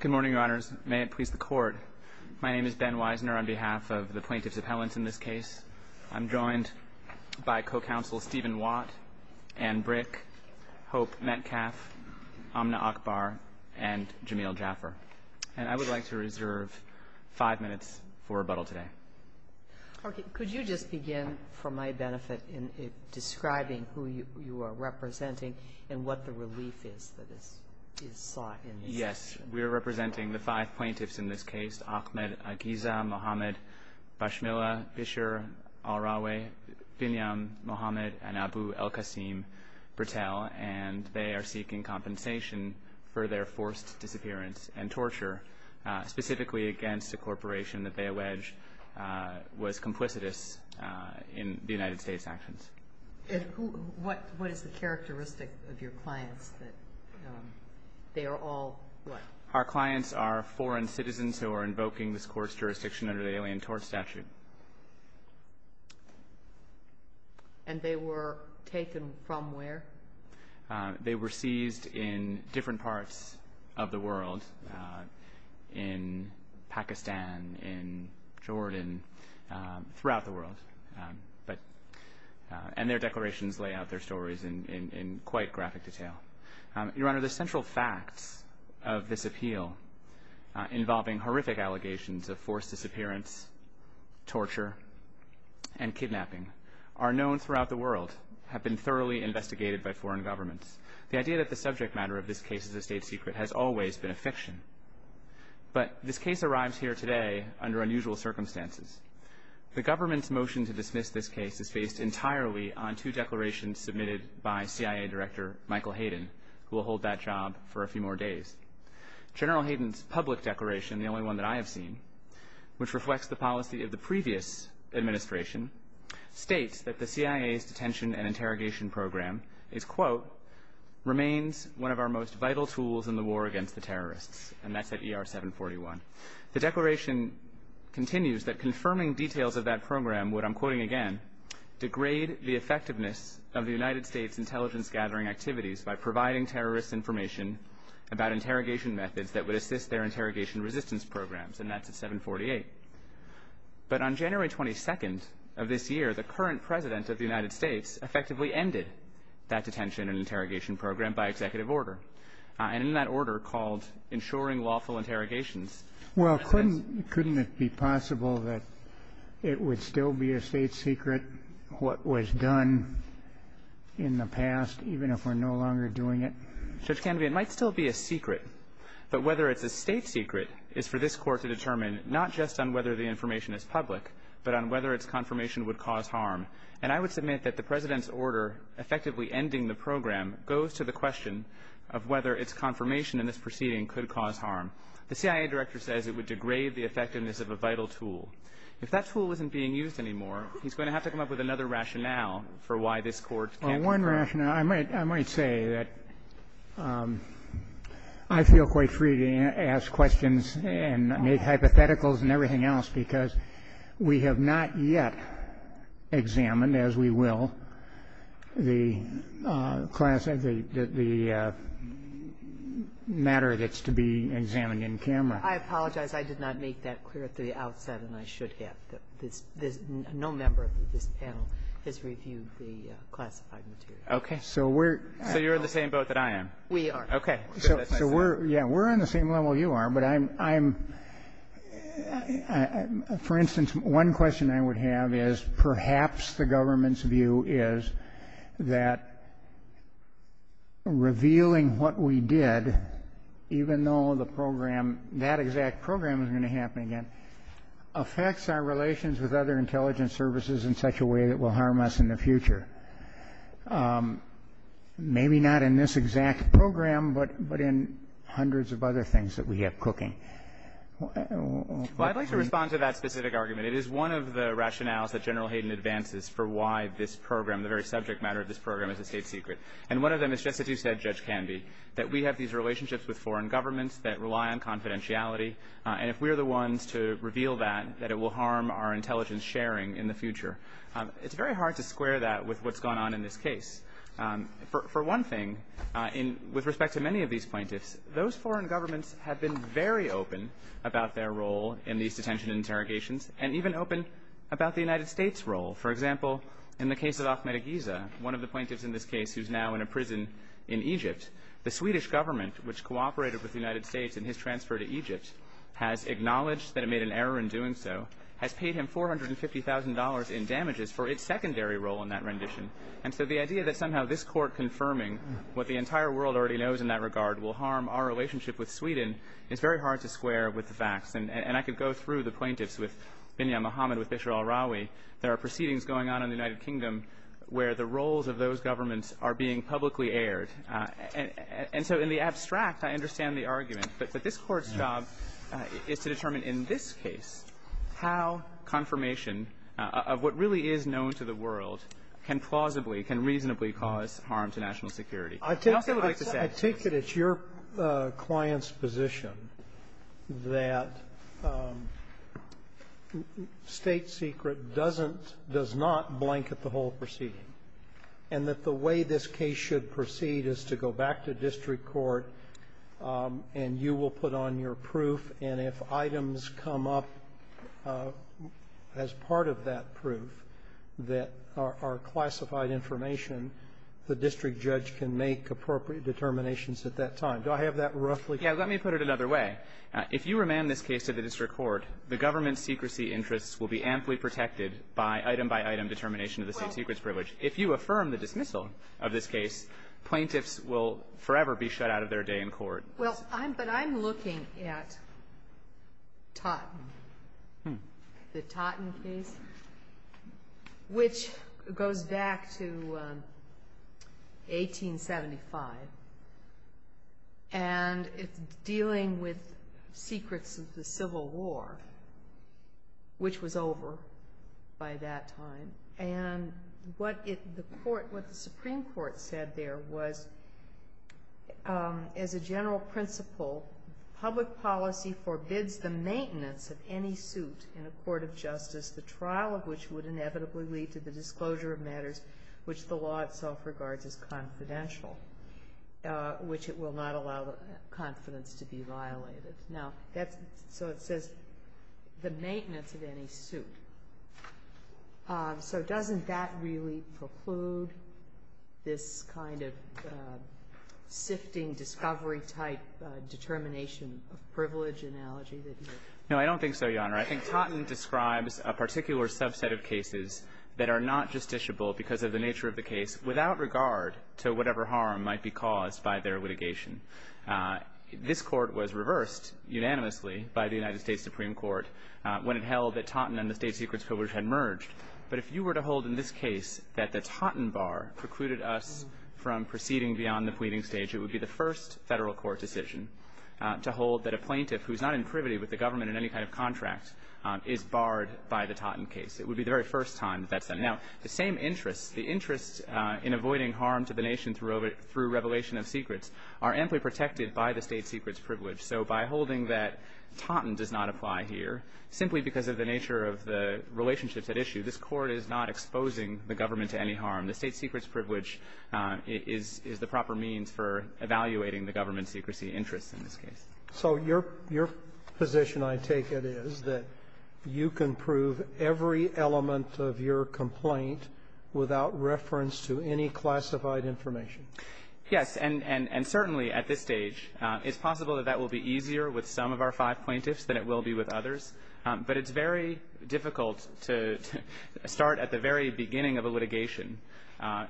Good morning, Your Honors. May it please the Court, my name is Ben Weisner on behalf of the plaintiffs' appellants in this case. I'm joined by co-counsel Stephen Watt, Anne Brick, Hope Metcalf, Amna Akbar, and Jameel Jaffer. And I would like to reserve five minutes for rebuttal today. Okay, could you just begin, for my benefit, in describing who you are representing and what the relief is that is sought in this case? Yes, we are representing the five plaintiffs in this case, Ahmed Aghiza, Mohamed Bashmila, Bisher Al-Raway, Binyam Mohamed, and Abu El-Kassim Bertel, and they are seeking compensation for their forced disappearance and torture, specifically against a corporation that they allege was complicitous in the United States actions. And what is the characteristic of your clients that they are all what? Our clients are foreign citizens who are invoking this court's jurisdiction under the Alien Tort Statute. And they were taken from where? They were seized in different parts of the world, in Pakistan, in Jordan, throughout the world. And their declarations lay out their stories in quite graphic detail. Your Honor, the central facts of this appeal, involving horrific allegations of forced disappearance, torture, and kidnapping, are known throughout the world, have been thoroughly investigated by foreign governments. The idea that the subject matter of this case is a state secret has always been a fiction. But this case arrives here today under unusual circumstances. The government's motion to dismiss this case is based entirely on two declarations submitted by CIA Director Michael Hayden, who will hold that job for a few more days. General Hayden's public declaration, the only one that I have seen, which reflects the policy of the previous administration, states that the CIA's detention and interrogation program is, quote, remains one of our most effective, and that's at ER 741. The declaration continues that confirming details of that program would, I'm quoting again, degrade the effectiveness of the United States' intelligence gathering activities by providing terrorists information about interrogation methods that would assist their interrogation resistance programs, and that's at 748. But on January 22nd of this year, the current President of the United States effectively ended that detention and interrogation program by executive order, and in that order called ensuring lawful interrogations. Well, couldn't it be possible that it would still be a state secret what was done in the past, even if we're no longer doing it? Judge Canovy, it might still be a secret, but whether it's a state secret is for this Court to determine, not just on whether the information is public, but on whether its confirmation would cause harm. And I would submit that the President's order effectively ending the program goes to the question of whether its confirmation in this proceeding could cause harm. The CIA director says it would degrade the effectiveness of a vital tool. If that tool isn't being used anymore, he's going to have to come up with another rationale for why this Court can't confirm. Well, one rationale, I might say that I feel quite free to ask questions and make hypotheticals and everything else, because we have not yet examined, as we will, the matter that's to be examined in camera. I apologize. I did not make that clear at the outset, and I should have. No member of this panel has reviewed the classified material. So you're in the same boat that I am? We are. Okay. So we're on the same level you are, but I'm, for instance, one question I would have is perhaps the government's view is that revealing what we did, even though the program, that exact program is going to happen again, affects our relations with other intelligence services in such a way that will harm us in the future. Maybe not in this exact program, but in hundreds of other things that we have cooking. Well, I'd like to respond to that specific argument. It is one of the rationales that General Hayden advances for why this program, the very subject matter of this program, is a state secret. And one of them is, just as you said, Judge Canby, that we have these relationships with foreign governments that rely on confidentiality, and if we're the intelligence sharing in the future. It's very hard to square that with what's going on in this case. For one thing, with respect to many of these plaintiffs, those foreign governments have been very open about their role in these detention interrogations, and even open about the United States' role. For example, in the case of Ahmed Aghiza, one of the plaintiffs in this case who's now in a prison in Egypt, the Swedish government, which cooperated with the United States in his transfer to Egypt, has acknowledged that it made an error in $450,000 in damages for its secondary role in that rendition. And so the idea that somehow this Court confirming what the entire world already knows in that regard will harm our relationship with Sweden is very hard to square with the facts. And I could go through the plaintiffs with Binyam Mohamed, with Bishr al-Rawi. There are proceedings going on in the United Kingdom where the roles of those governments are being publicly aired. And so in the abstract, I understand the argument. But this Court's job is to determine in this case how confirmation of what really is known to the world can plausibly, can reasonably cause harm to national security. I'd also like to say ---- I take it it's your client's position that State Secret doesn't — does not blanket the whole proceeding, and that the way this case should proceed is to go back to district court, and you will put on your proof. And if items come up as part of that proof that are classified information, the district judge can make appropriate determinations at that time. Do I have that roughly? Yeah. Let me put it another way. If you remand this case to the district court, the government's secrecy interests will be amply protected by item-by-item determination of the State Secret's privilege. If you affirm the dismissal of this case, plaintiffs will forever be shut out of their day in court. Well, but I'm looking at Totten, the Totten case, which goes back to 1875, and it's dealing with secrets of the Civil War, which was over by that time. And what the Supreme Court said there was, as a general principle, public policy forbids the maintenance of any suit in a court of justice, the trial of which would inevitably lead to the disclosure of matters which the law itself regards as confidential, which it will not allow the confidence to be violated. So it says, the maintenance of any suit. So doesn't that really preclude this kind of sifting, discovery-type determination of privilege analogy that you're making? No, I don't think so, Your Honor. I think Totten describes a particular subset of cases that are not justiciable because of the nature of the case, without regard to whatever harm might be caused by their litigation. This Court was reversed unanimously by the United States Supreme Court when it held that Totten and the State Secret's privilege had merged. But if you were to hold in this case that the Totten bar precluded us from proceeding beyond the pleading stage, it would be the first Federal court decision to hold that a plaintiff who's not in privity with the government in any kind of contract is barred by the Totten case. It would be the very first time that that's done. Now, the same interests, the interests in avoiding harm to the nation through revelation of secrets are amply protected by the State Secret's privilege. So by holding that Totten does not apply here, simply because of the nature of the relationships at issue, this Court is not exposing the government to any harm. The State Secret's privilege is the proper means for evaluating the government's secrecy interests in this case. So your position, I take it, is that you can prove every element of your complaint without reference to any classified information? Yes. And certainly at this stage, it's possible that that will be easier with some of our five plaintiffs than it will be with others. But it's very difficult to start at the very beginning of a litigation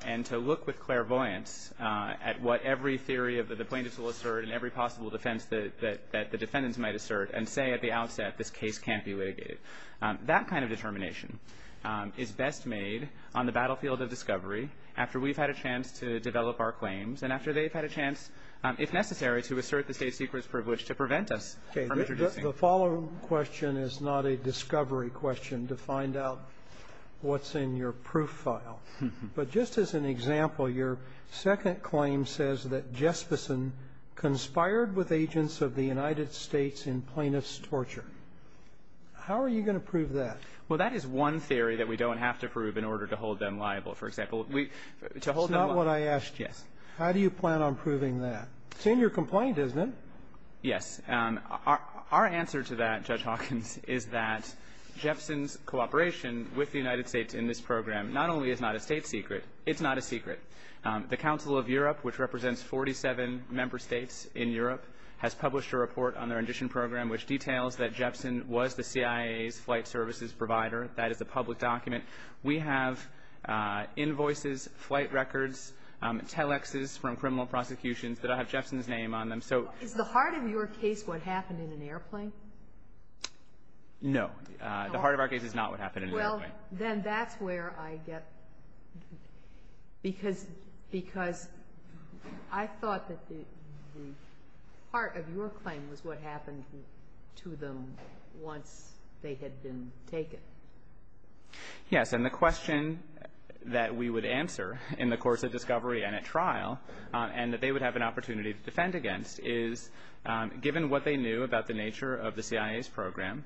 and to look with clairvoyance at what every theory of the plaintiffs will assert and every possible defense that the defendants might assert and say at the outset, this case can't be litigated. That kind of determination is best made on the battlefield of discovery, after we've had a chance to develop our claims and after they've had a chance, if necessary, to assert the State Secret's privilege to prevent us from introducing them. Okay. The following question is not a discovery question to find out what's in your proof file. But just as an example, your second claim says that Jesperson conspired with agents of the United States in plaintiff's torture. How are you going to prove that? Well, that is one theory that we don't have to prove in order to hold them liable. For example, we to hold them liable. That's not what I asked you. Yes. How do you plan on proving that? It's in your complaint, isn't it? Yes. Our answer to that, Judge Hawkins, is that Jesperson's cooperation with the United States in this program not only is not a State Secret, it's not a secret. The Council of Europe, which represents 47 member states in Europe, has published a report on their audition program which details that Jesperson was the CIA's flight services provider. That is a public document. We have invoices, flight records, telexes from criminal prosecutions that have Jesperson's name on them. Is the heart of your case what happened in an airplane? No. The heart of our case is not what happened in an airplane. Well, then that's where I get... Because I thought that the heart of your claim was what happened to them once they had been taken. Yes. And the question that we would answer in the course of discovery and at trial and that they would have an opportunity to defend against is, given what they knew about the nature of the CIA's program,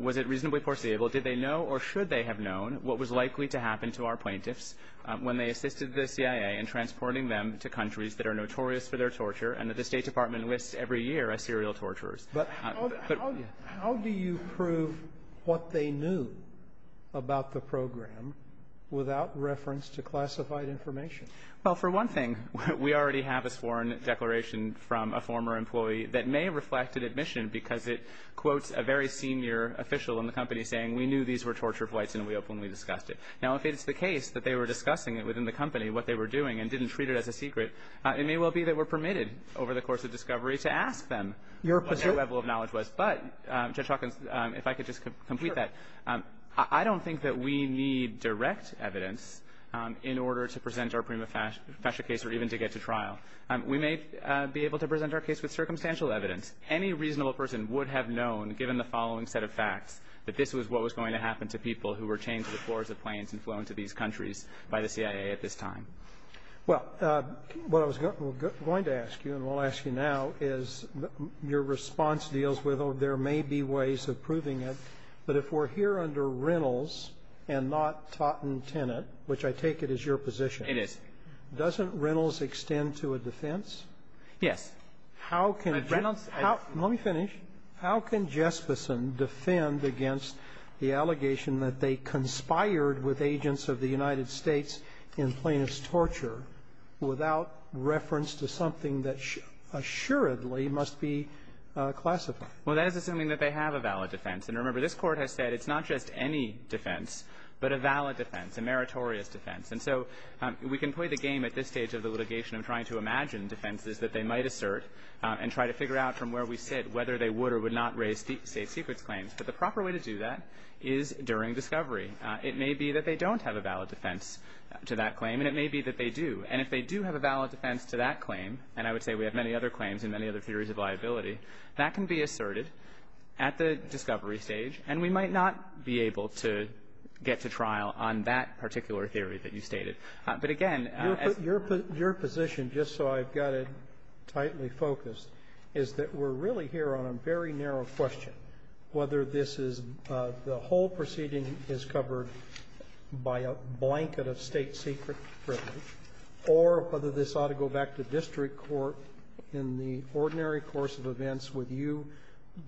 was it reasonably foreseeable? Did they know or should they have known what was likely to happen to our plaintiffs when they assisted the CIA in transporting them to countries that are notorious for their torture and that the State Department lists every year as serial torturers? But how do you prove what they knew about the program without reference to classified information? Well, for one thing, we already have a sworn declaration from a former employee that may reflect an admission because it quotes a very senior official in the company saying, we knew these were torture flights and we openly discussed it. Now, if it's the case that they were discussing it within the company, what they were doing and didn't treat it as a secret, it may well be that we're permitted over the course of discovery to ask them what their level of knowledge was. But, Judge Hawkins, if I could just complete that, I don't think that we need direct evidence in order to present our prima facie case or even to get to trial. We may be able to present our case with circumstantial evidence. Any reasonable person would have known, given the following set of facts, that this was what was going to happen to people who were chained to the floors of planes and flown to these countries by the CIA at this time. Well, what I was going to ask you and will ask you now is your response deals with or there may be ways of proving it, but if we're here under Reynolds and not Totten-Tennant, which I take it is your position. It is. Doesn't Reynolds extend to a defense? Yes. How can Reynolds – let me finish. How can Jesperson defend against the allegation that they conspired with agents of the United States in plaintiff's torture without reference to something that assuredly must be classified? Well, that is assuming that they have a valid defense. And remember, this Court has said it's not just any defense, but a valid defense, a meritorious defense. And so we can play the game at this stage of the litigation of trying to imagine defenses that they might assert and try to figure out from where we sit whether they would or would not raise state secrets claims. But the proper way to do that is during discovery. It may be that they don't have a valid defense to that claim, and it may be that they do. And if they do have a valid defense to that claim, and I would say we have many other claims and many other theories of liability, that can be asserted at the discovery stage. And we might not be able to get to trial on that particular theory that you stated. But, again, as — Your position, just so I've got it tightly focused, is that we're really here on a very narrow question, whether this is – the whole proceeding is covered by a blanket of State secret privilege, or whether this ought to go back to district court in the ordinary course of events with you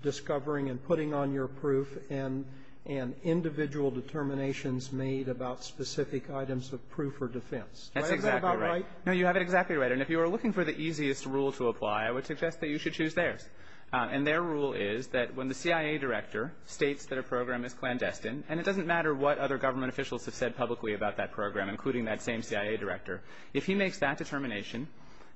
discovering and putting on your proof and — and individual determinations made about specific items of proof or defense. Do I have that about right? No, you have it exactly right. And if you are looking for the easiest rule to apply, I would suggest that you should choose theirs. And their rule is that when the CIA director states that a program is clandestine – and it doesn't matter what other government officials have said publicly about that program, including that same CIA director – if he makes that determination,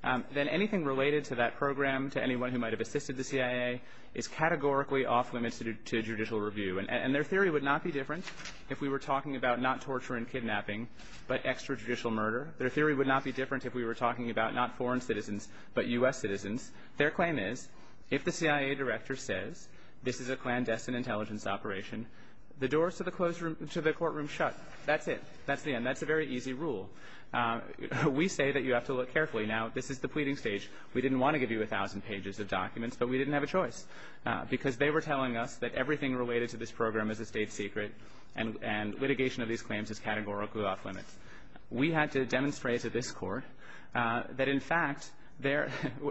then anything related to that program, to anyone who might have assisted the CIA, is categorically off limits to judicial review. And their theory would not be different if we were talking about not torture and kidnapping, but extrajudicial murder. Their theory would not be different if we were talking about not foreign citizens, but U.S. citizens. Their claim is, if the CIA director says this is a clandestine intelligence operation, the doors to the courtroom shut. That's it. That's the end. That's a very easy rule. We say that you have to look carefully. Now, this is the pleading stage. We didn't want to give you a thousand pages of documents, but we didn't have a choice, because they were telling us that everything related to this program is a state secret and litigation of these claims is categorically off limits. We had to demonstrate to this Court that, in fact,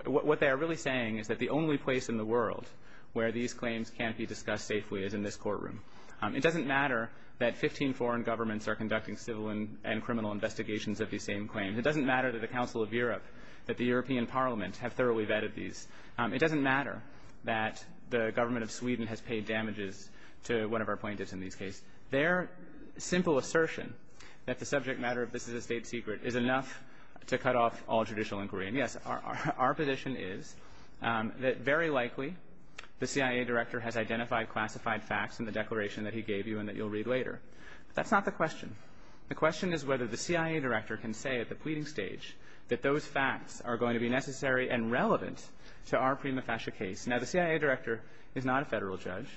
what they are really saying is that the only place in the world where these claims can be discussed safely is in this courtroom. It doesn't matter that 15 foreign governments are conducting civil and criminal investigations of these same claims. It doesn't matter to the Council of Europe that the European Parliament have thoroughly vetted these. It doesn't matter that the government of Sweden has paid damages to one of our plaintiffs in these cases. Their simple assertion that the subject matter of this is a state secret is enough to cut off all judicial inquiry. And, yes, our position is that, very likely, the CIA director has identified classified facts in the declaration that he gave you and that you'll read later. But that's not the question. The question is whether the CIA director can say at the pleading stage that those facts are going to be necessary and relevant to our prima facie case. Now, the CIA director is not a federal judge.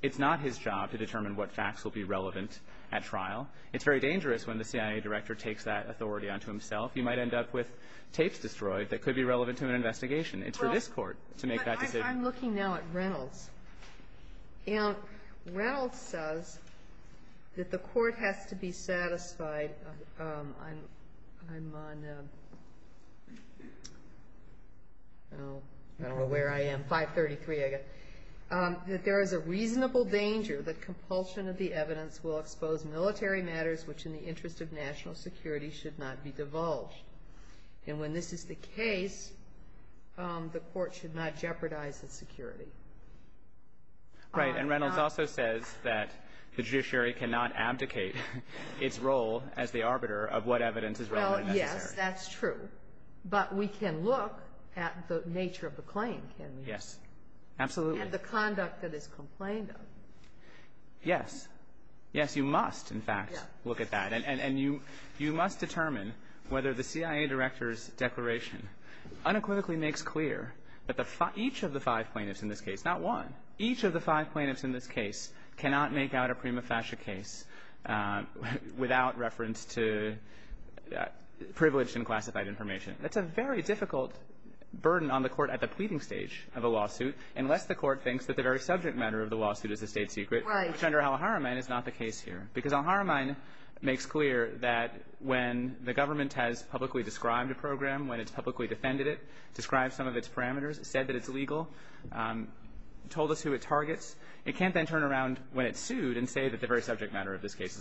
It's not his job to determine what facts will be relevant at trial. It's very dangerous when the CIA director takes that authority onto himself. He might end up with tapes destroyed that could be relevant to an investigation. It's for this Court to make that decision. I'm looking now at Reynolds. And Reynolds says that the Court has to be satisfied that there is a reasonable danger that compulsion of the evidence will expose military matters which, in the interest of And when this is the case, the Court should not jeopardize its security. Right. And Reynolds also says that the judiciary cannot abdicate its role as the arbiter of what evidence is relevant and necessary. Well, yes, that's true. But we can look at the nature of the claim, can we? Yes. Absolutely. And the conduct that is complained of. Yes. Yes, you must, in fact, look at that. And you must determine whether the CIA director's declaration unequivocally makes clear that each of the five plaintiffs in this case, not one, each of the five plaintiffs in this case cannot make out a prima facie case without reference to privileged and classified information. That's a very difficult burden on the Court at the pleading stage of a lawsuit unless the Court thinks that the very subject matter of the lawsuit is a state secret. Right. Al-Haramayn is not the case here. Because Al-Haramayn makes clear that when the government has publicly described a program, when it's publicly defended it, described some of its parameters, said that it's illegal, told us who it targets, it can't then turn around when it's sued and say that the very subject matter of this case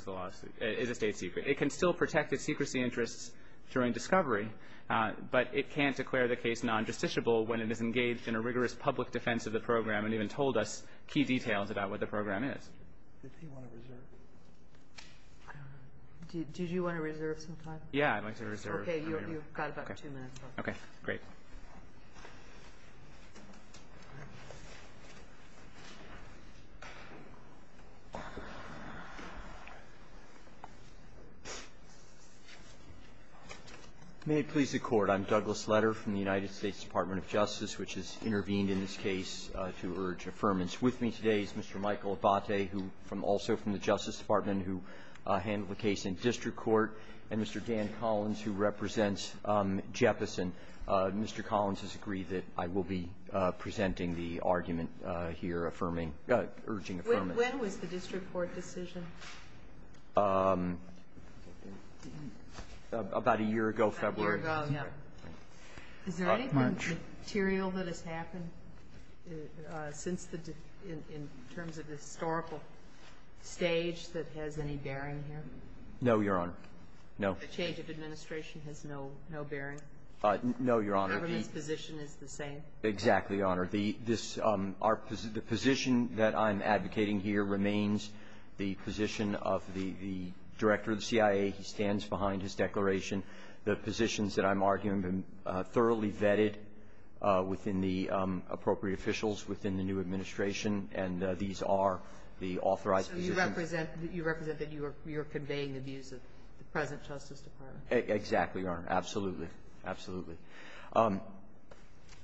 is a state secret. It can still protect its secrecy interests during discovery, but it can't declare the case non-justiciable when it is engaged in a rigorous public defense of the program and even told us key details about what the program is. Does he want to reserve? Did you want to reserve some time? Yeah, I'd like to reserve. Okay. You've got about two minutes left. Okay. Great. May it please the Court. I'm Douglas Letter from the United States Department of Justice, which has intervened in this case to urge affirmance. With me today is Mr. Michael Abbate, who also from the Justice Department, who handled the case in district court, and Mr. Dan Collins, who represents Jeppesen. Mr. Collins has agreed that I will be presenting the argument here, affirming or urging affirmance. When was the district court decision? About a year ago, February. Is there any material that has happened in terms of historical stage that has any bearing here? No, Your Honor. No. The change of administration has no bearing? No, Your Honor. The government's position is the same? Exactly, Your Honor. The position that I'm advocating here remains the position of the director of the CIA. He stands behind his declaration. The positions that I'm arguing have been thoroughly vetted within the appropriate officials within the new administration, and these are the authorized positions. So you represent that you are conveying the views of the present Justice Department? Exactly, Your Honor. Absolutely. Absolutely.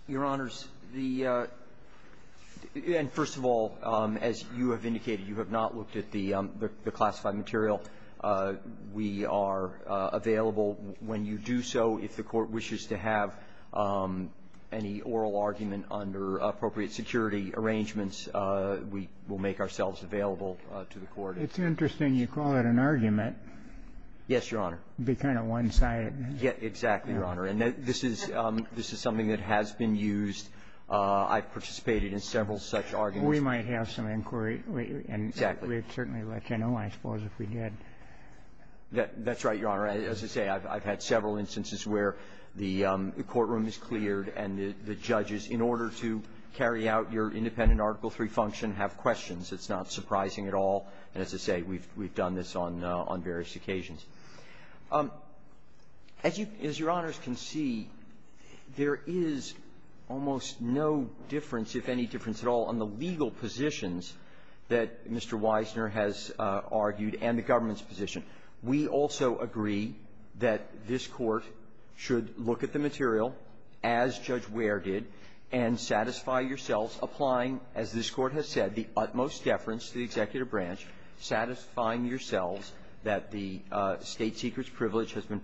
Your Honors, the — and first of all, as you have indicated, you have not looked at the classified material. We are available when you do so. If the Court wishes to have any oral argument under appropriate security arrangements, we will make ourselves available to the Court. It's interesting you call it an argument. Yes, Your Honor. It would be kind of one-sided. Yes, exactly, Your Honor. And this is something that has been used. I've participated in several such arguments. We might have some inquiry. Exactly. We'd certainly let you know, I suppose, if we did. That's right, Your Honor. As I say, I've had several instances where the courtroom is cleared and the judges, in order to carry out your independent Article III function, have questions. It's not surprising at all. And as I say, we've done this on various occasions. As Your Honors can see, there is almost no difference, if any difference at all, on the legal positions that Mr. Weisner has argued and the government's position. We also agree that this Court should look at the material, as Judge Ware did, and satisfy yourselves applying, as this Court has said, the utmost deference to the executive branch, satisfying yourselves that the State Seeker's privilege has been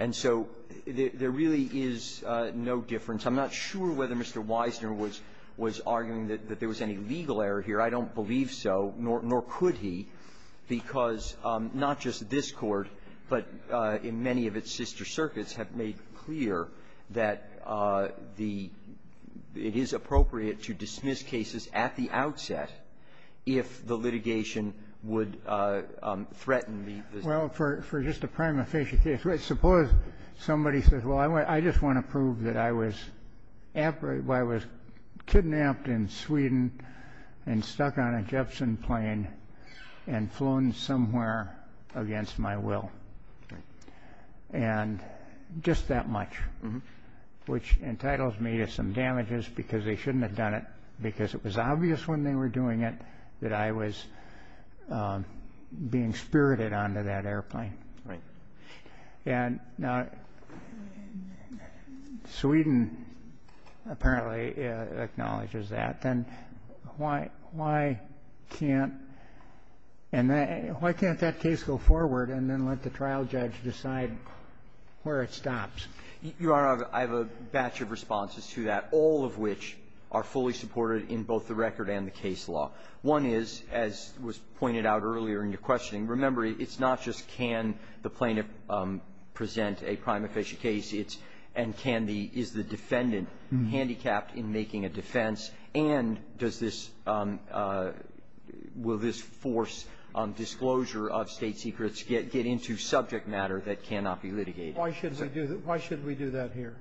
And so there really is no difference. I'm not sure whether Mr. Weisner was arguing that there was any legal error here. I don't believe so, nor could he, because not just this Court, but in many of its sister circuits have made clear that the – it is appropriate to dismiss cases at the outset if the litigation would threaten the – Well, for just a prima facie case, suppose somebody says, well, I just want to prove that I was kidnapped in Sweden and stuck on a Jepson plane and flown somewhere against my will, and just that much, which entitles me to some damages because they shouldn't have done it, because it was obvious when they were doing it that I was being spirited onto that airplane. Right. And now Sweden apparently acknowledges that. Then why can't – and why can't that case go forward and then let the trial judge decide where it stops? Your Honor, I have a batch of responses to that, all of which are fully supported in both the record and the case law. One is, as was pointed out earlier in your questioning, remember, it's not just can the plaintiff present a prima facie case, it's – and can the – is the defendant handicapped in making a defense, and does this – will this force disclosure of State secrets get into subject matter that cannot be litigated? Why should we do that here?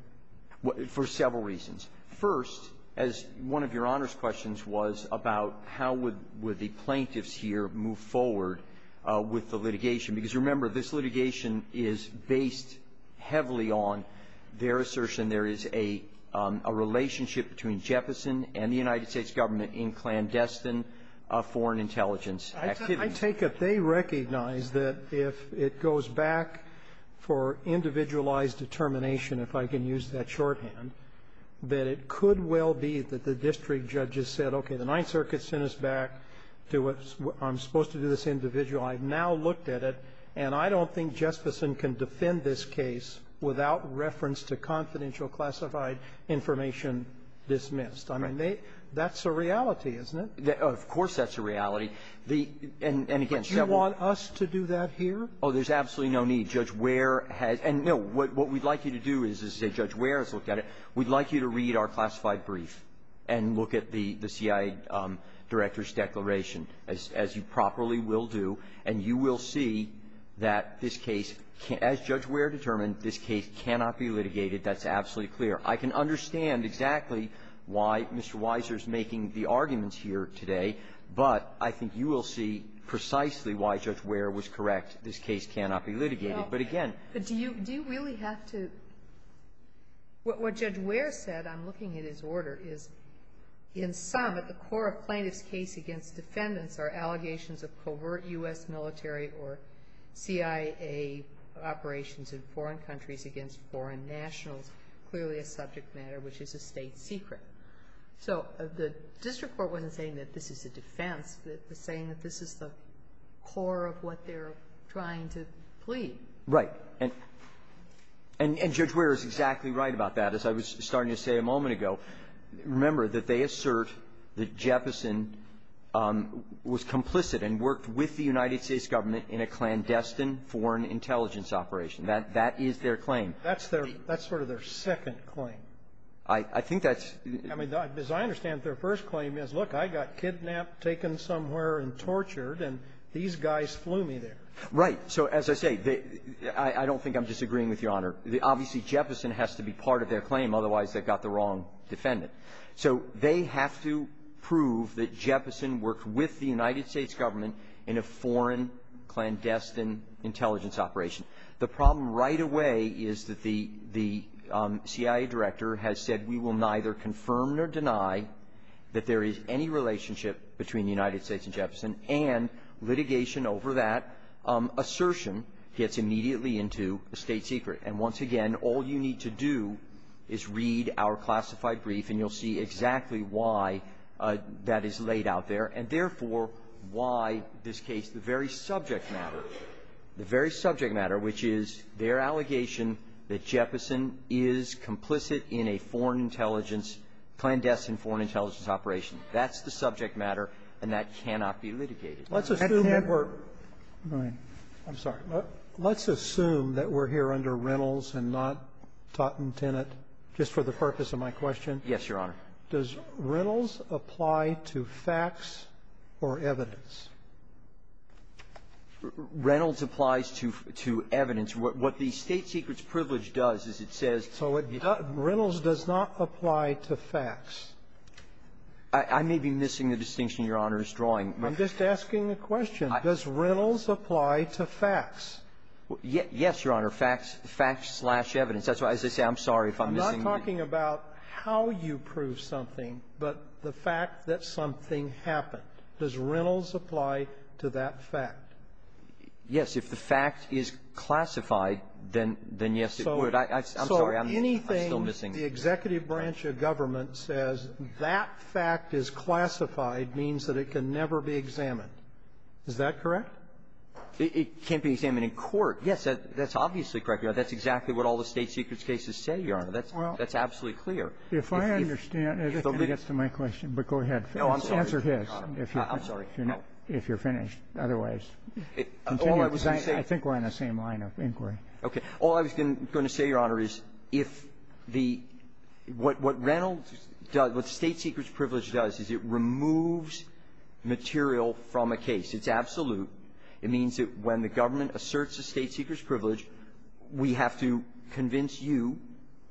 For several reasons. First, as one of Your Honor's questions was about how would the plaintiffs here move forward with the litigation, because remember, this litigation is based heavily on their assertion there is a relationship between Jepson and the United States government in clandestine foreign intelligence activities. I take it they recognize that if it goes back for individualized determination, if I can use that shorthand, that it could well be that the district judges said, okay, the Ninth Circuit sent us back to what I'm supposed to do this individual. I've now looked at it, and I don't think Jesperson can defend this case without reference to confidential classified information dismissed. I mean, they – that's a reality, isn't it? Of course that's a reality. The – and again, several – But you want us to do that here? Oh, there's absolutely no need. Judge Wehr has – and, no, what we'd like you to do is, as Judge Wehr has looked at it, we'd like you to read our classified brief and look at the CIA director's declaration, as you properly will do, and you will see that this case – as Judge Wehr determined, this case cannot be litigated. That's absolutely clear. I can understand exactly why Mr. Weiser is making the arguments here today, but I think you will see precisely why Judge Wehr was correct. This case cannot be litigated. But again – But do you – do you really have to – what Judge Wehr said, I'm looking at his order, is, in sum, at the core of plaintiff's case against defendants are allegations of covert U.S. military or CIA operations in foreign countries against foreign nationals, clearly a subject matter which is a state secret. So the district court wasn't saying that this is a defense. It was saying that this is the core of what they're trying to plead. Right. And – and Judge Wehr is exactly right about that. As I was starting to say a moment ago, remember that they assert that Jefferson was complicit and worked with the United States government in a clandestine foreign intelligence operation. That – that is their claim. That's their – that's sort of their second claim. I – I think that's – I mean, as I understand it, their first claim is, look, I got kidnapped, taken somewhere, and tortured, and these guys flew me there. Right. So as I say, they – I don't think I'm disagreeing with Your Honor. Obviously, Jefferson has to be part of their claim. Otherwise, they've got the wrong defendant. So they have to prove that Jefferson worked with the United States government in a foreign clandestine intelligence operation. The problem right away is that the – the CIA director has said we will neither confirm nor deny that there is any relationship between the United States and Jefferson, and litigation over that assertion gets immediately into a state secret. And once again, all you need to do is read our classified brief, and you'll see exactly why that is laid out there, and therefore, why this case – the very subject matter, which is their allegation that Jefferson is complicit in a foreign intelligence – clandestine foreign intelligence operation. That's the subject matter, and that cannot be litigated. That can't work. I'm sorry. Let's assume that we're here under Reynolds and not Totten-Tinnit, just for the purpose of my question. Yes, Your Honor. Does Reynolds apply to facts or evidence? Reynolds applies to – to evidence. What the State Secrets Privilege does is it says – So it – Reynolds does not apply to facts. I may be missing the distinction Your Honor is drawing. I'm just asking a question. Does Reynolds apply to facts? Yes, Your Honor. Facts – facts-slash-evidence. That's why, as I say, I'm sorry if I'm missing the – I'm not talking about how you prove something, but the fact that something happened. Does Reynolds apply to that fact? Yes. If the fact is classified, then – then, yes, it would. I – I'm sorry. I'm – I'm still missing – So anything the executive branch of government says that fact is classified means that it can never be examined. Is that correct? It can't be examined in court. Yes, that – that's obviously correct, Your Honor. That's exactly what all the State Secrets cases say, Your Honor. That's – that's absolutely clear. If I understand – if nobody gets to my question, but go ahead. No, I'm sorry. Answer his. I'm sorry. If you're finished. Otherwise, continue. I think we're on the same line of inquiry. All I was going to say, Your Honor, is if the – what Reynolds does – what State Secrets privilege does is it removes material from a case. It's absolute. It means that when the government asserts a State Secrets privilege, we have to convince you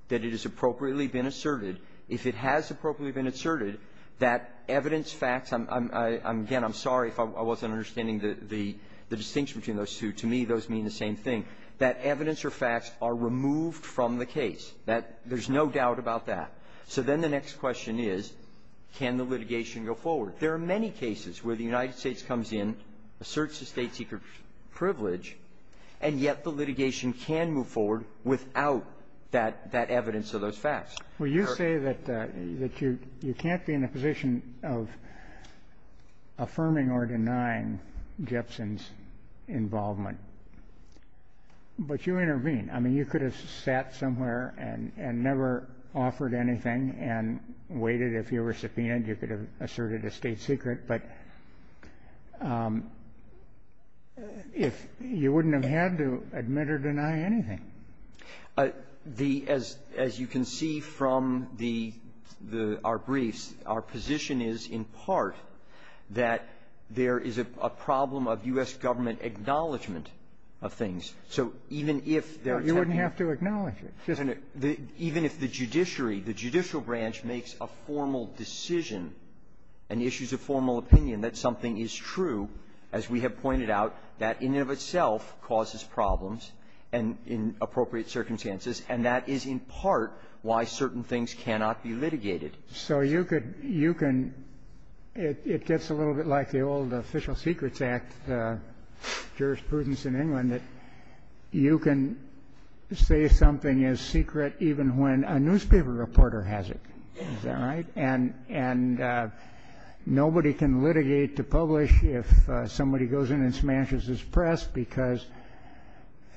that it has appropriately been asserted. If it has appropriately been asserted, that evidence, facts – I'm – again, I'm sorry if I wasn't understanding the distinction between those two. To me, those mean the same thing, that evidence or facts are removed from the case. That – there's no doubt about that. So then the next question is, can the litigation go forward? There are many cases where the United States comes in, asserts a State Secrets privilege, and yet the litigation can move forward without that – that evidence or those facts. Well, you say that you can't be in a position of affirming or denying Jepsen's involvement, but you intervene. I mean, you could have sat somewhere and never offered anything and waited. If you were subpoenaed, you could have asserted a State Secret. But if – you wouldn't have had to admit or deny anything. The – as you can see from the – our briefs, our position is in part that there is a problem of U.S. government acknowledgment of things. So even if there are – You wouldn't have to acknowledge it. Even if the judiciary, the judicial branch, makes a formal decision and issues a formal opinion that something is true, as we have pointed out, that in and of itself causes problems and – in appropriate circumstances. And that is in part why certain things cannot be litigated. So you could – you can – it gets a little bit like the old Official Secrets Act jurisprudence in England, that you can say something is secret even when a newspaper reporter has it. Is that right? And – and nobody can litigate to publish if somebody goes in and smashes his press because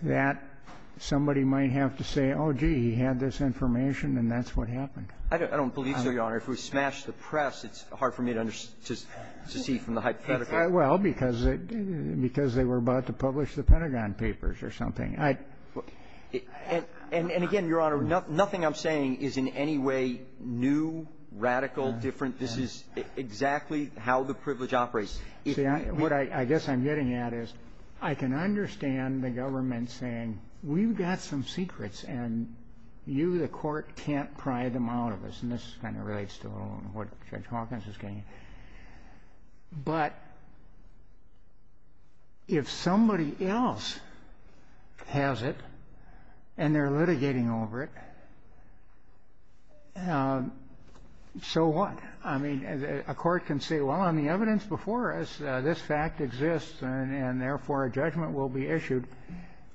that – somebody might have to say, oh, gee, he had this information, and that's what happened. I don't believe so, Your Honor. If we smash the press, it's hard for me to see from the hypothetical. Well, because they were about to publish the Pentagon Papers or something. I – and – and again, Your Honor, nothing I'm saying is in any way new, radical, different. This is exactly how the privilege operates. See, what I guess I'm getting at is I can understand the government saying, we've got some secrets, and you, the court, can't pry them out of us. And this kind of relates to what Judge Hawkins is getting at. But if somebody else has it, and they're litigating over it, so what? I mean, a court can say, well, on the evidence before us, this fact exists, and therefore a judgment will be issued.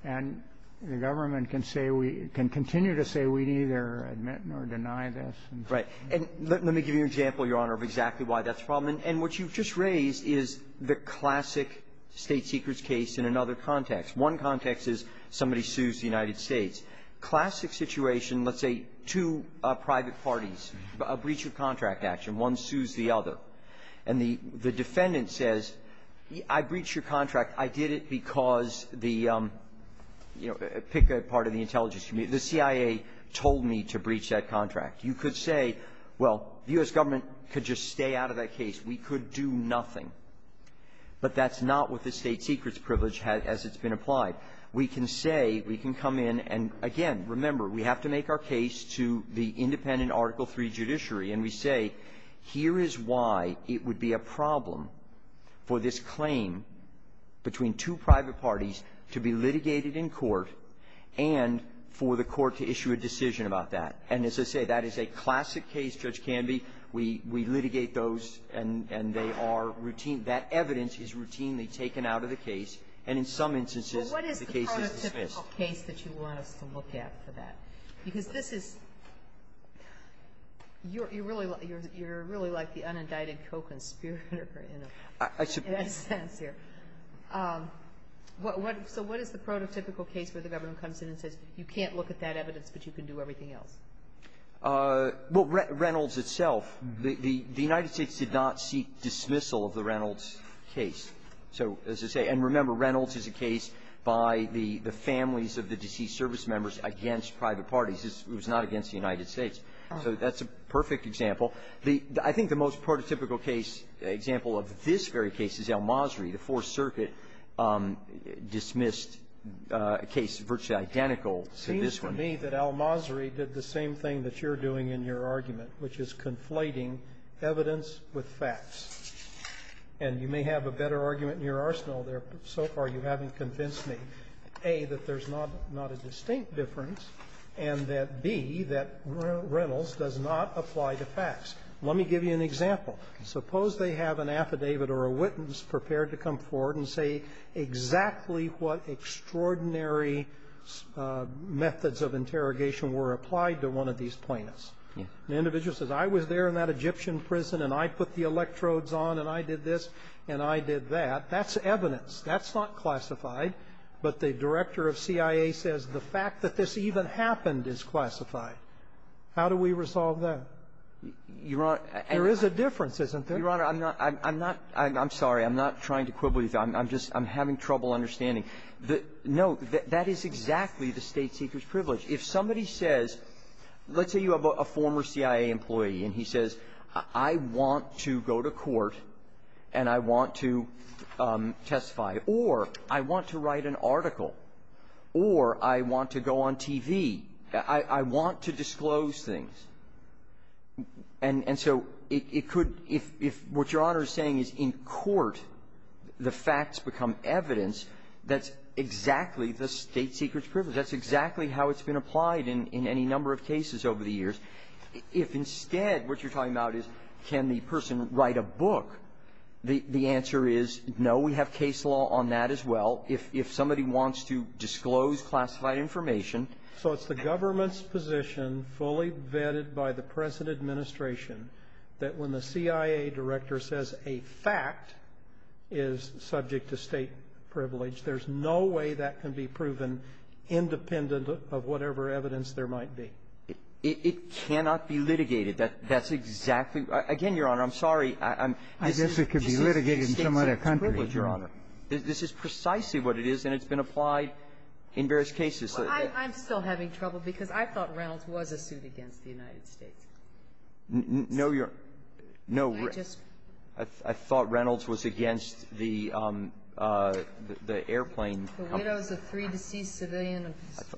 And the government can say we – can continue to say we neither admit nor deny this. Right. And let me give you an example, Your Honor, of exactly why that's a problem. And what you've just raised is the classic state secrets case in another context. One context is somebody sues the United States. Classic situation, let's say two private parties, a breach of contract action. One sues the other. And the – the defendant says, I breached your contract. I did it because the – you know, pick a part of the intelligence community. The CIA told me to breach that contract. You could say, well, the U.S. government could just stay out of that case. We could do nothing. But that's not what the state secrets privilege has – as it's been applied. We can say – we can come in and, again, remember, we have to make our case to the independent Article III judiciary, and we say, here is why it would be a problem for this claim between two private parties to be litigated in court and for the court to issue a decision about that. And as I say, that is a classic case, Judge Canby. We – we litigate those, and they are routine. That evidence is routinely taken out of the case. And in some instances, the case is dismissed. Kagan. So what is the prototypical case that you want us to look at for that? Because this is – you're really like the unindicted co-conspirator in a sense here. So what is the prototypical case where the government comes in and says, you can't look at that evidence, but you can do everything else? Well, Reynolds itself, the – the United States did not seek dismissal of the Reynolds case. So as I say – and remember, Reynolds is a case by the – the families of the deceased service members against private parties. It was not against the United States. So that's a perfect example. The – I think the most prototypical case – example of this very case is El-Masri. The Fourth Circuit dismissed a case virtually identical to this one. It seems to me that El-Masri did the same thing that you're doing in your argument, which is conflating evidence with facts. And you may have a better argument in your arsenal there, but so far you haven't convinced me, A, that there's not – not a distinct difference, and that, B, that Reynolds does not apply to facts. Let me give you an example. Suppose they have an affidavit or a witness prepared to come forward and say exactly what extraordinary methods of interrogation were applied to one of these plaintiffs. The individual says, I was there in that Egyptian prison, and I put the electrodes on, and I did this, and I did that. That's evidence. That's not classified. But the director of CIA says the fact that this even happened is classified. How do we resolve that? There is a difference, isn't there? Your Honor, I'm not – I'm not – I'm sorry. I'm not trying to quibble you. I'm just – I'm having trouble understanding. No. That is exactly the State Seeker's privilege. If somebody says – let's say you have a former CIA employee, and he says, I want to go to court, and I want to testify, or I want to write an article, or I want to go on TV. I want to disclose things. And so it could – if what Your Honor is saying is in court, the facts become evidence, that's exactly the State Seeker's privilege. That's exactly how it's been applied in any number of cases over the years. If, instead, what you're talking about is can the person write a book, the answer is, no, we have case law on that as well. If somebody wants to disclose classified information… by the present administration that when the CIA director says a fact is subject to State privilege, there's no way that can be proven independent of whatever evidence there might be. It – it cannot be litigated. That – that's exactly – again, Your Honor, I'm sorry. I'm… I guess it could be litigated in some other country.… State Seeker's privilege, Your Honor. This is precisely what it is, and it's been applied in various cases. Well, I'm still having trouble because I thought Reynolds was a suit against the United States. No, Your – no, I thought Reynolds was against the – the airplane company. The widows of three deceased civilian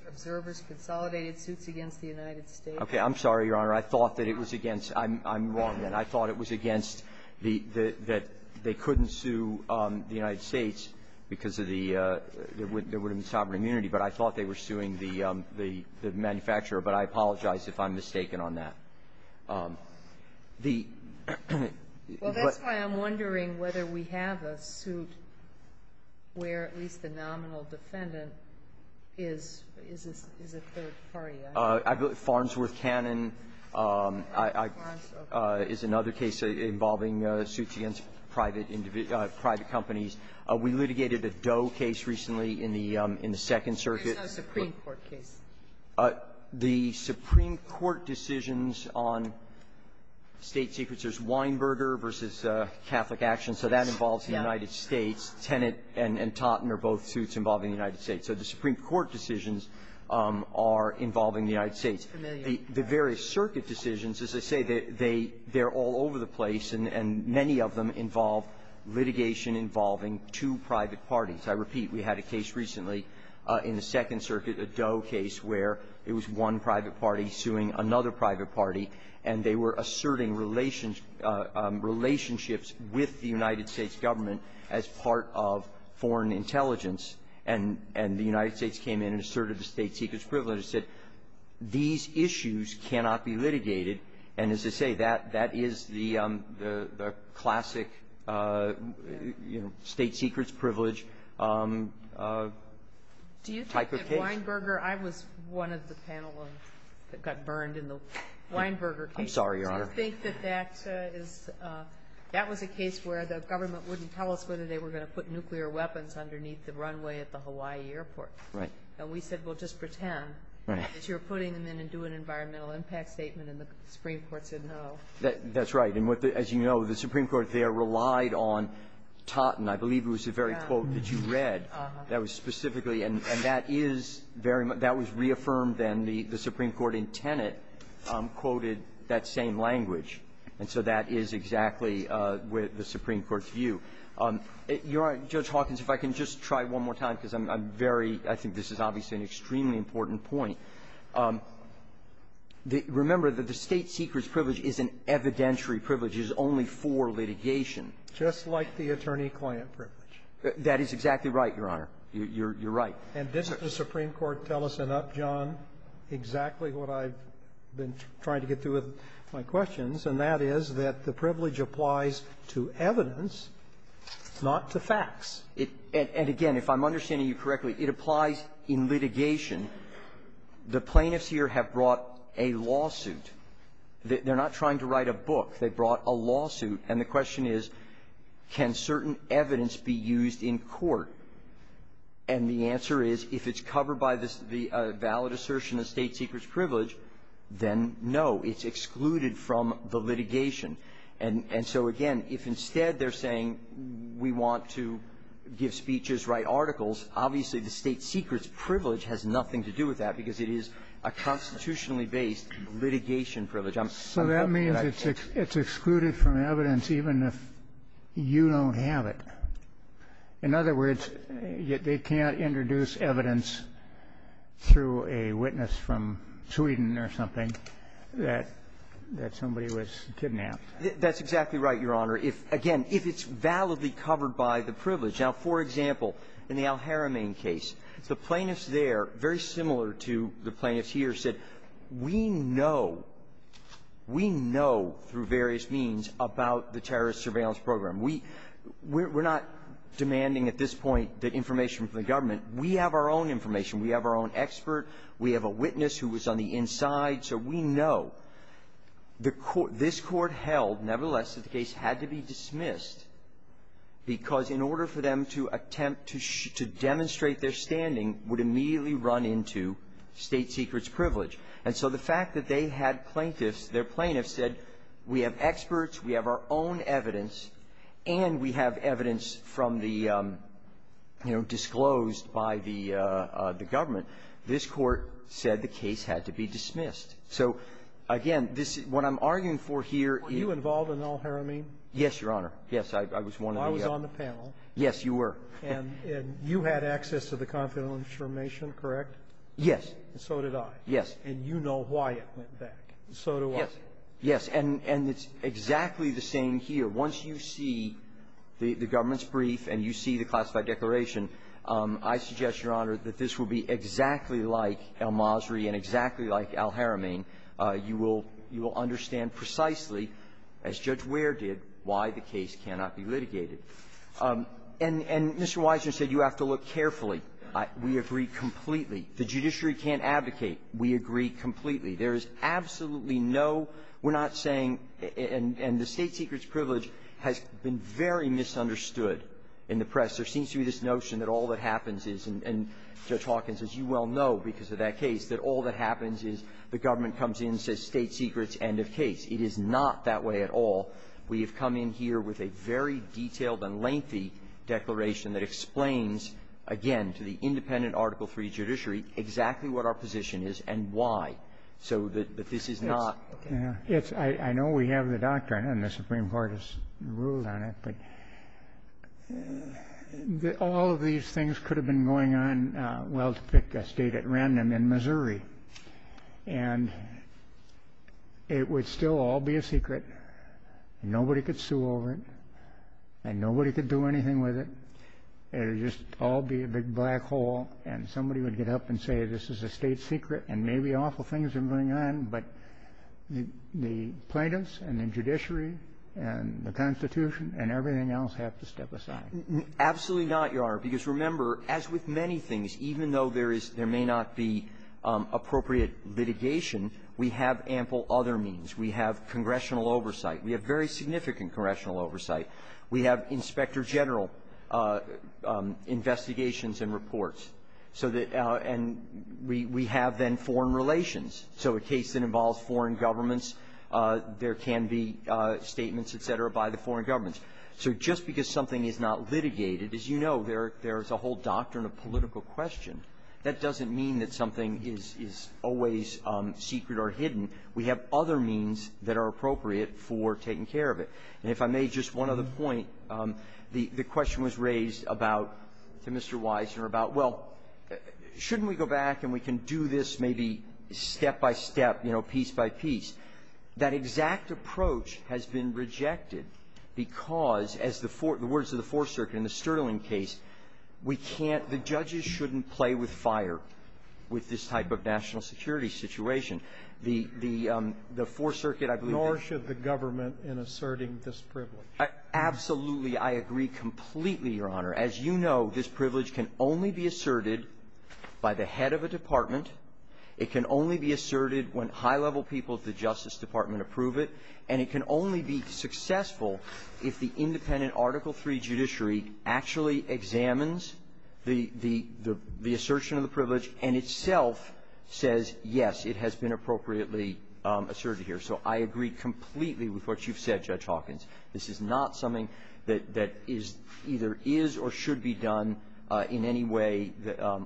observers consolidated suits against the United States. Okay. I'm sorry, Your Honor. I thought that it was against – I'm – I'm wrong, then. I thought it was against the – that they couldn't sue the United States because of the – there would have been sovereign immunity. But I thought they were suing the – the manufacturer. But I apologize if I'm mistaken on that. The… Well, that's why I'm wondering whether we have a suit where at least the nominal defendant is – is a – is a third party. I believe Farnsworth Cannon is another case involving suits against private – private companies. We litigated a Doe case recently in the – in the Second Circuit. It's not a Supreme Court case. The Supreme Court decisions on State Secrets, there's Weinberger v. Catholic Action, so that involves the United States. Tenet and – and Totten are both suits involving the United States. So the Supreme Court decisions are involving the United States. The various circuit decisions, as I say, they – they – they're all over the place, and – and many of them involve litigation involving two private parties. I repeat, we had a case recently in the Second Circuit, a Doe case, where it was one private party suing another private party, and they were asserting relations – relationships with the United States government as part of foreign intelligence. And – and the United States came in and asserted the State Secrets privilege and said these issues cannot be litigated. And as I say, that – that is the – the classic, you know, State Secrets privilege type of case. Do you think that Weinberger – I was one of the panelists that got burned in the Weinberger case. I'm sorry, Your Honor. Do you think that that is – that was a case where the government wouldn't tell us whether they were going to put nuclear weapons underneath the runway at the Hawaii airport? Right. And we said, well, just pretend that you're putting them in and do an environmental impact statement, and the Supreme Court said no. That's right. And what the – as you know, the Supreme Court there relied on Totten. I believe it was the very quote that you read. Uh-huh. That was specifically – and that is very much – that was reaffirmed, and the – the Supreme Court in Tenet quoted that same language. And so that is exactly the Supreme Court's view. Your Honor, Judge Hawkins, if I can just try one more time, because I'm very – I think this is obviously an extremely important point. Remember that the State Seeker's privilege is an evidentiary privilege. It is only for litigation. Just like the attorney-client privilege. That is exactly right, Your Honor. You're – you're right. And didn't the Supreme Court tell us enough, John, exactly what I've been trying to get through with my questions, and that is that the privilege applies to evidence, not to facts. And again, if I'm understanding you correctly, it applies in litigation. The plaintiffs here have brought a lawsuit. They're not trying to write a book. They brought a lawsuit. And the question is, can certain evidence be used in court? And the answer is, if it's covered by this – the valid assertion of State Seeker's privilege, then no. It's excluded from the litigation. And so, again, if instead they're saying, we want to give speeches, write articles, obviously the State Seeker's privilege has nothing to do with that, because it is a constitutionally based litigation privilege. So that means it's excluded from evidence even if you don't have it. In other words, they can't introduce evidence through a witness from Sweden or something that somebody was kidnapped. That's exactly right, Your Honor. If, again, if it's validly covered by the privilege. Now, for example, in the Al-Haramain case, the plaintiffs there, very similar to the plaintiffs here, said, we know, we know through various means about the terrorist surveillance program. We're not demanding at this point the information from the government. We have our own information. We have our own expert. We have a witness who was on the inside. So we know the court – this court held, nevertheless, that the case had to be dismissed because in order for them to attempt to – to demonstrate their standing would immediately run into State Seeker's privilege. And so the fact that they had plaintiffs, their plaintiffs said, we have experts, we have our own evidence, and we have evidence from the, you know, disclosed by the government, this court said the case had to be dismissed. So, again, this – what I'm arguing for here – Were you involved in Al-Haramain? Yes, Your Honor. Yes, I was one of the – Well, I was on the panel. Yes, you were. And you had access to the confidential information, correct? Yes. And so did I. Yes. And you know why it went back. So do I. Yes. And it's exactly the same here. Once you see the government's brief and you see the classified declaration, I suggest, Your Honor, that this will be exactly like El-Masri and exactly like Al-Haramain. You will understand precisely, as Judge Wehr did, why the case cannot be litigated. And Mr. Weissner said you have to look carefully. We agree completely. The judiciary can't advocate. We agree completely. There is absolutely no – we're not saying – and the State Seeker's privilege has been very misunderstood in the press. There seems to be this notion that all that happens is – and Judge Hawkins, as you well know because of that case, that all that happens is the government comes in and says State Seeker's end of case. It is not that way at all. We have come in here with a very detailed and lengthy declaration that explains, again, to the independent Article III judiciary exactly what our position is and why. So that this is not – I know we have the doctrine and the Supreme Court has ruled on it, but all of these things could have been going on, well, to pick a state at random in Missouri. And it would still all be a secret. Nobody could sue over it. And nobody could do anything with it. It would just all be a big black hole. And somebody would get up and say, this is a state secret, and maybe awful things are going on. But the plaintiffs and the judiciary and the Constitution and everything else have to step aside. Absolutely not, Your Honor, because remember, as with many things, even though there is – there may not be appropriate litigation, we have ample other means. We have congressional oversight. We have very significant congressional oversight. We have inspector general investigations and reports. So that – and we have, then, foreign relations. So a case that involves foreign governments, there can be statements, et cetera, by the foreign governments. So just because something is not litigated, as you know, there – there is a whole doctrine of political question. That doesn't mean that something is – is always secret or hidden. We have other means that are appropriate for taking care of it. And if I may, just one other point. The – the question was raised about – to Mr. Weisner about, well, shouldn't we go back and we can do this maybe step-by-step, you know, piece-by-piece. That exact approach has been rejected because, as the four – the words of the Fourth Circuit in the Sterling case, we can't – the judges shouldn't play with fire with this type of national security situation. The – the Fourth Circuit, I believe that… Nor should the government in asserting this privilege. Absolutely, I agree completely, Your Honor. As you know, this privilege can only be asserted by the head of a department. It can only be asserted when high-level people of the Justice Department approve it, and it can only be successful if the independent Article III judiciary actually examines the – the assertion of the privilege and itself says, yes, it has been appropriately asserted here. So I agree completely with what you've said, Judge Hawkins. This is not something that – that is – either is or should be done in any way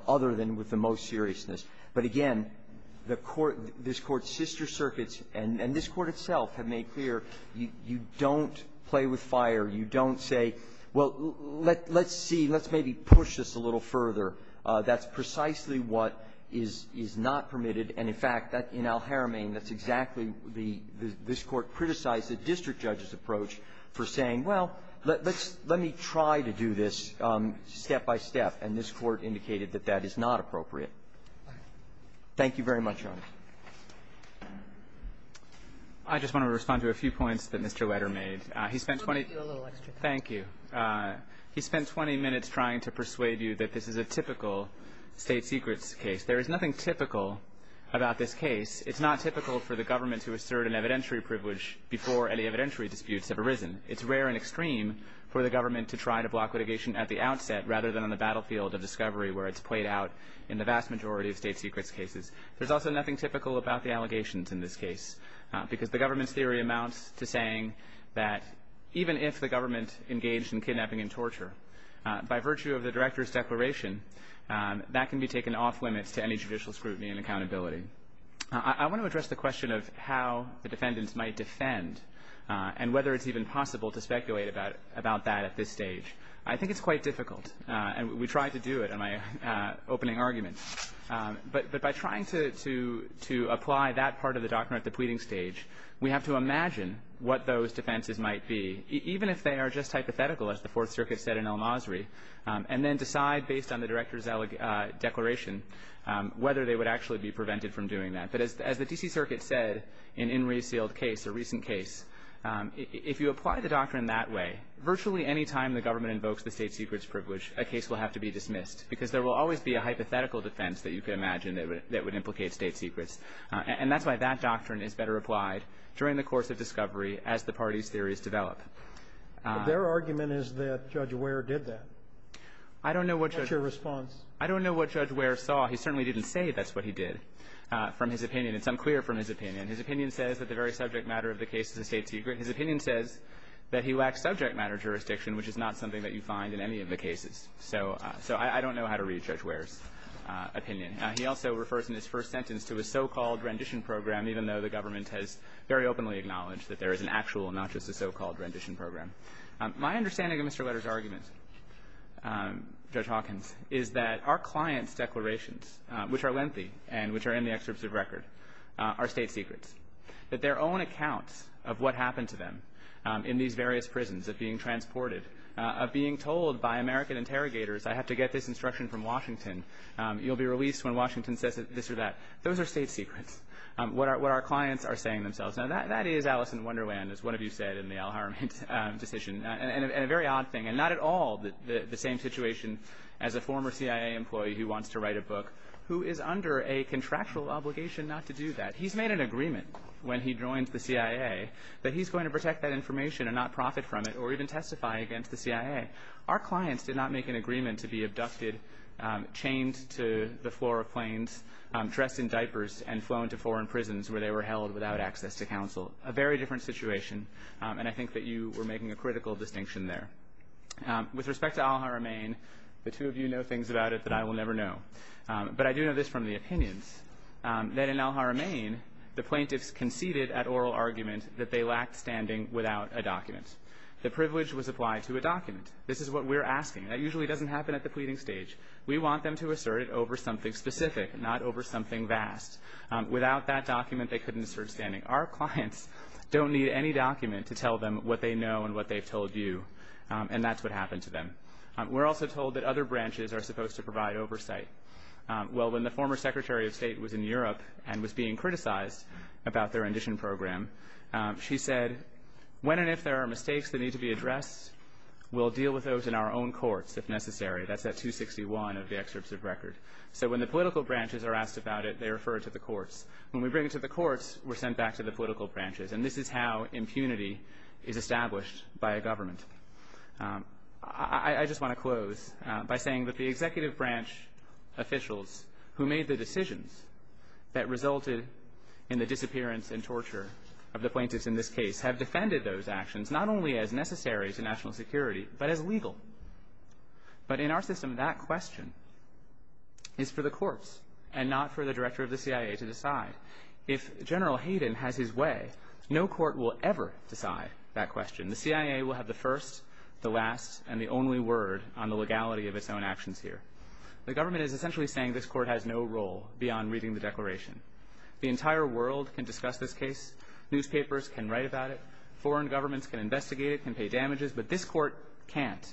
other than with the most seriousness. But again, the Court – this Court's sister circuits and – and this Court itself have made clear you don't play with fire. You don't say, well, let's see, let's maybe push this a little further. That's precisely what is – is not permitted. And, in fact, that – in Al-Haramain, that's exactly the – this Court criticized the district judge's approach for saying, well, let – let's – let me try to do this step-by-step, and this Court indicated that that is not appropriate. Thank you very much, Your Honor. I just want to respond to a few points that Mr. Leder made. He spent 20 – We'll give you a little extra time. Thank you. He spent 20 minutes trying to persuade you that this is a typical state secrets case. There is nothing typical about this case. It's not typical for the government to assert an evidentiary privilege before any evidentiary disputes have arisen. It's rare and extreme for the government to try to block litigation at the outset rather than on the battlefield of discovery where it's played out in the vast majority of state secrets cases. There's also nothing typical about the allegations in this case because the government's theory amounts to saying that even if the government engaged in kidnapping and torture, by virtue of the director's declaration, that can be taken off limits to any judicial scrutiny and accountability. I want to address the question of how the defendants might defend and whether it's even possible to speculate about that at this stage. I think it's quite difficult, and we tried to do it in my opening argument. But by trying to apply that part of the doctrine at the pleading stage, we have to imagine what those defenses might be, even if they are just hypothetical, as the Fourth Circuit said in El-Masri, and then decide based on the director's declaration whether they would actually be prevented from doing that. But as the D.C. Circuit said in Inree's sealed case, a recent case, if you apply the doctrine that way, virtually any time the government invokes the state secrets privilege, a case will have to be dismissed because there will always be a hypothetical defense that you can imagine that would implicate state secrets. And that's why that doctrine is better applied during the course of discovery as the parties' theories develop. But their argument is that Judge Wehr did that. I don't know what Judge Wehr did. What's your response? I don't know what Judge Wehr saw. He certainly didn't say that's what he did from his opinion. It's unclear from his opinion. His opinion says that the very subject matter of the case is a state secret. His opinion says that he lacks subject matter jurisdiction, which is not something that you find in any of the cases. So I don't know how to read Judge Wehr's opinion. He also refers in his first sentence to a so-called rendition program, even though the government has very openly acknowledged that there is an actual, not just a so-called rendition program. My understanding of Mr. Leder's argument, Judge Hawkins, is that our client's declarations, which are lengthy and which are in the excerpts of record, are state secrets, that their own accounts of what happened to them in these various prisons, of being transported, of being told by American interrogators, I have to get this instruction from Washington, you'll be released when Washington says this or that, those are state secrets, what our clients are saying themselves. Now that is Alice in Wonderland, as one of you said in the Al Haram decision, and a very odd thing, and not at all the same situation as a former CIA employee who wants to write a book, who is under a contractual obligation not to do that. He's made an agreement when he joins the CIA that he's going to protect that information and not profit from it, or even testify against the CIA. Our clients did not make an agreement to be abducted, chained to the floor of planes, dressed in diapers, and flown to foreign prisons where they were held without access to counsel, a very different situation, and I think that you were making a critical distinction there. With respect to Al Haramain, the two of you know things about it that I will never know, but I do know this from the opinions, that in Al Haramain, the plaintiffs conceded at oral argument that they lacked standing without a document. The privilege was applied to a document. This is what we're asking. That usually doesn't happen at the pleading stage. We want them to assert it over something specific, not over something vast. Without that document, they couldn't assert standing. Our clients don't need any document to tell them what they know and what they've told you, and that's what happened to them. We're also told that other branches are supposed to provide oversight. Well, when the former Secretary of State was in Europe and was being criticized about their rendition program, she said, when and if there are mistakes that need to be addressed, we'll deal with those in our own courts if necessary. That's at 261 of the excerpts of record. So when the political branches are asked about it, they refer it to the courts. When we bring it to the courts, we're sent back to the political branches, and this is how impunity is established by a government. I just want to close by saying that the executive branch officials who made the decisions that resulted in the disappearance and torture of the plaintiffs in this case have defended those actions, not only as necessary to national security, but as legal, but in our system, that question is for the courts and not for the director of the CIA to decide. If General Hayden has his way, no court will ever decide that question. The CIA will have the first, the last, and the only word on the legality of its own actions here. The government is essentially saying this court has no role beyond reading the declaration. The entire world can discuss this case. Newspapers can write about it. Foreign governments can investigate it, can pay damages, but this court can't.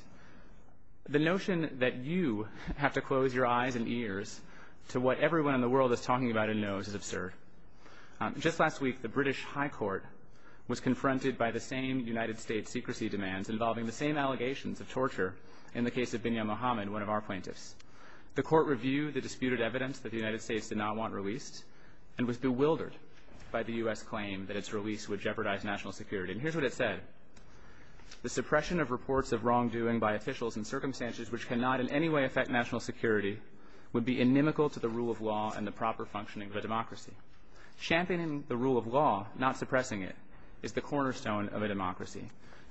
The notion that you have to close your eyes and ears to what everyone in the world is talking about and knows is absurd. Just last week, the British High Court was confronted by the same United States secrecy demands involving the same allegations of torture in the case of Binyam Mohamed, one of our plaintiffs. The court reviewed the disputed evidence that the United States did not want released and was bewildered by the US claim that its release would jeopardize national security, and here's what it said. The suppression of reports of wrongdoing by officials and circumstances which cannot in any way affect national security would be inimical to the rule of law and the proper functioning of a democracy. Championing the rule of law, not suppressing it, is the cornerstone of a democracy.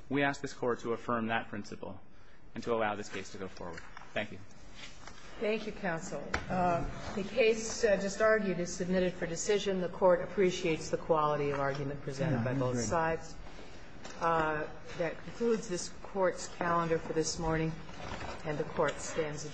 We ask this court to affirm that principle and to allow this case to go forward. Thank you. Thank you, counsel. The case just argued is submitted for decision. The court appreciates the quality of argument presented by both sides. That concludes this court's calendar for this morning, and the court stands adjourned.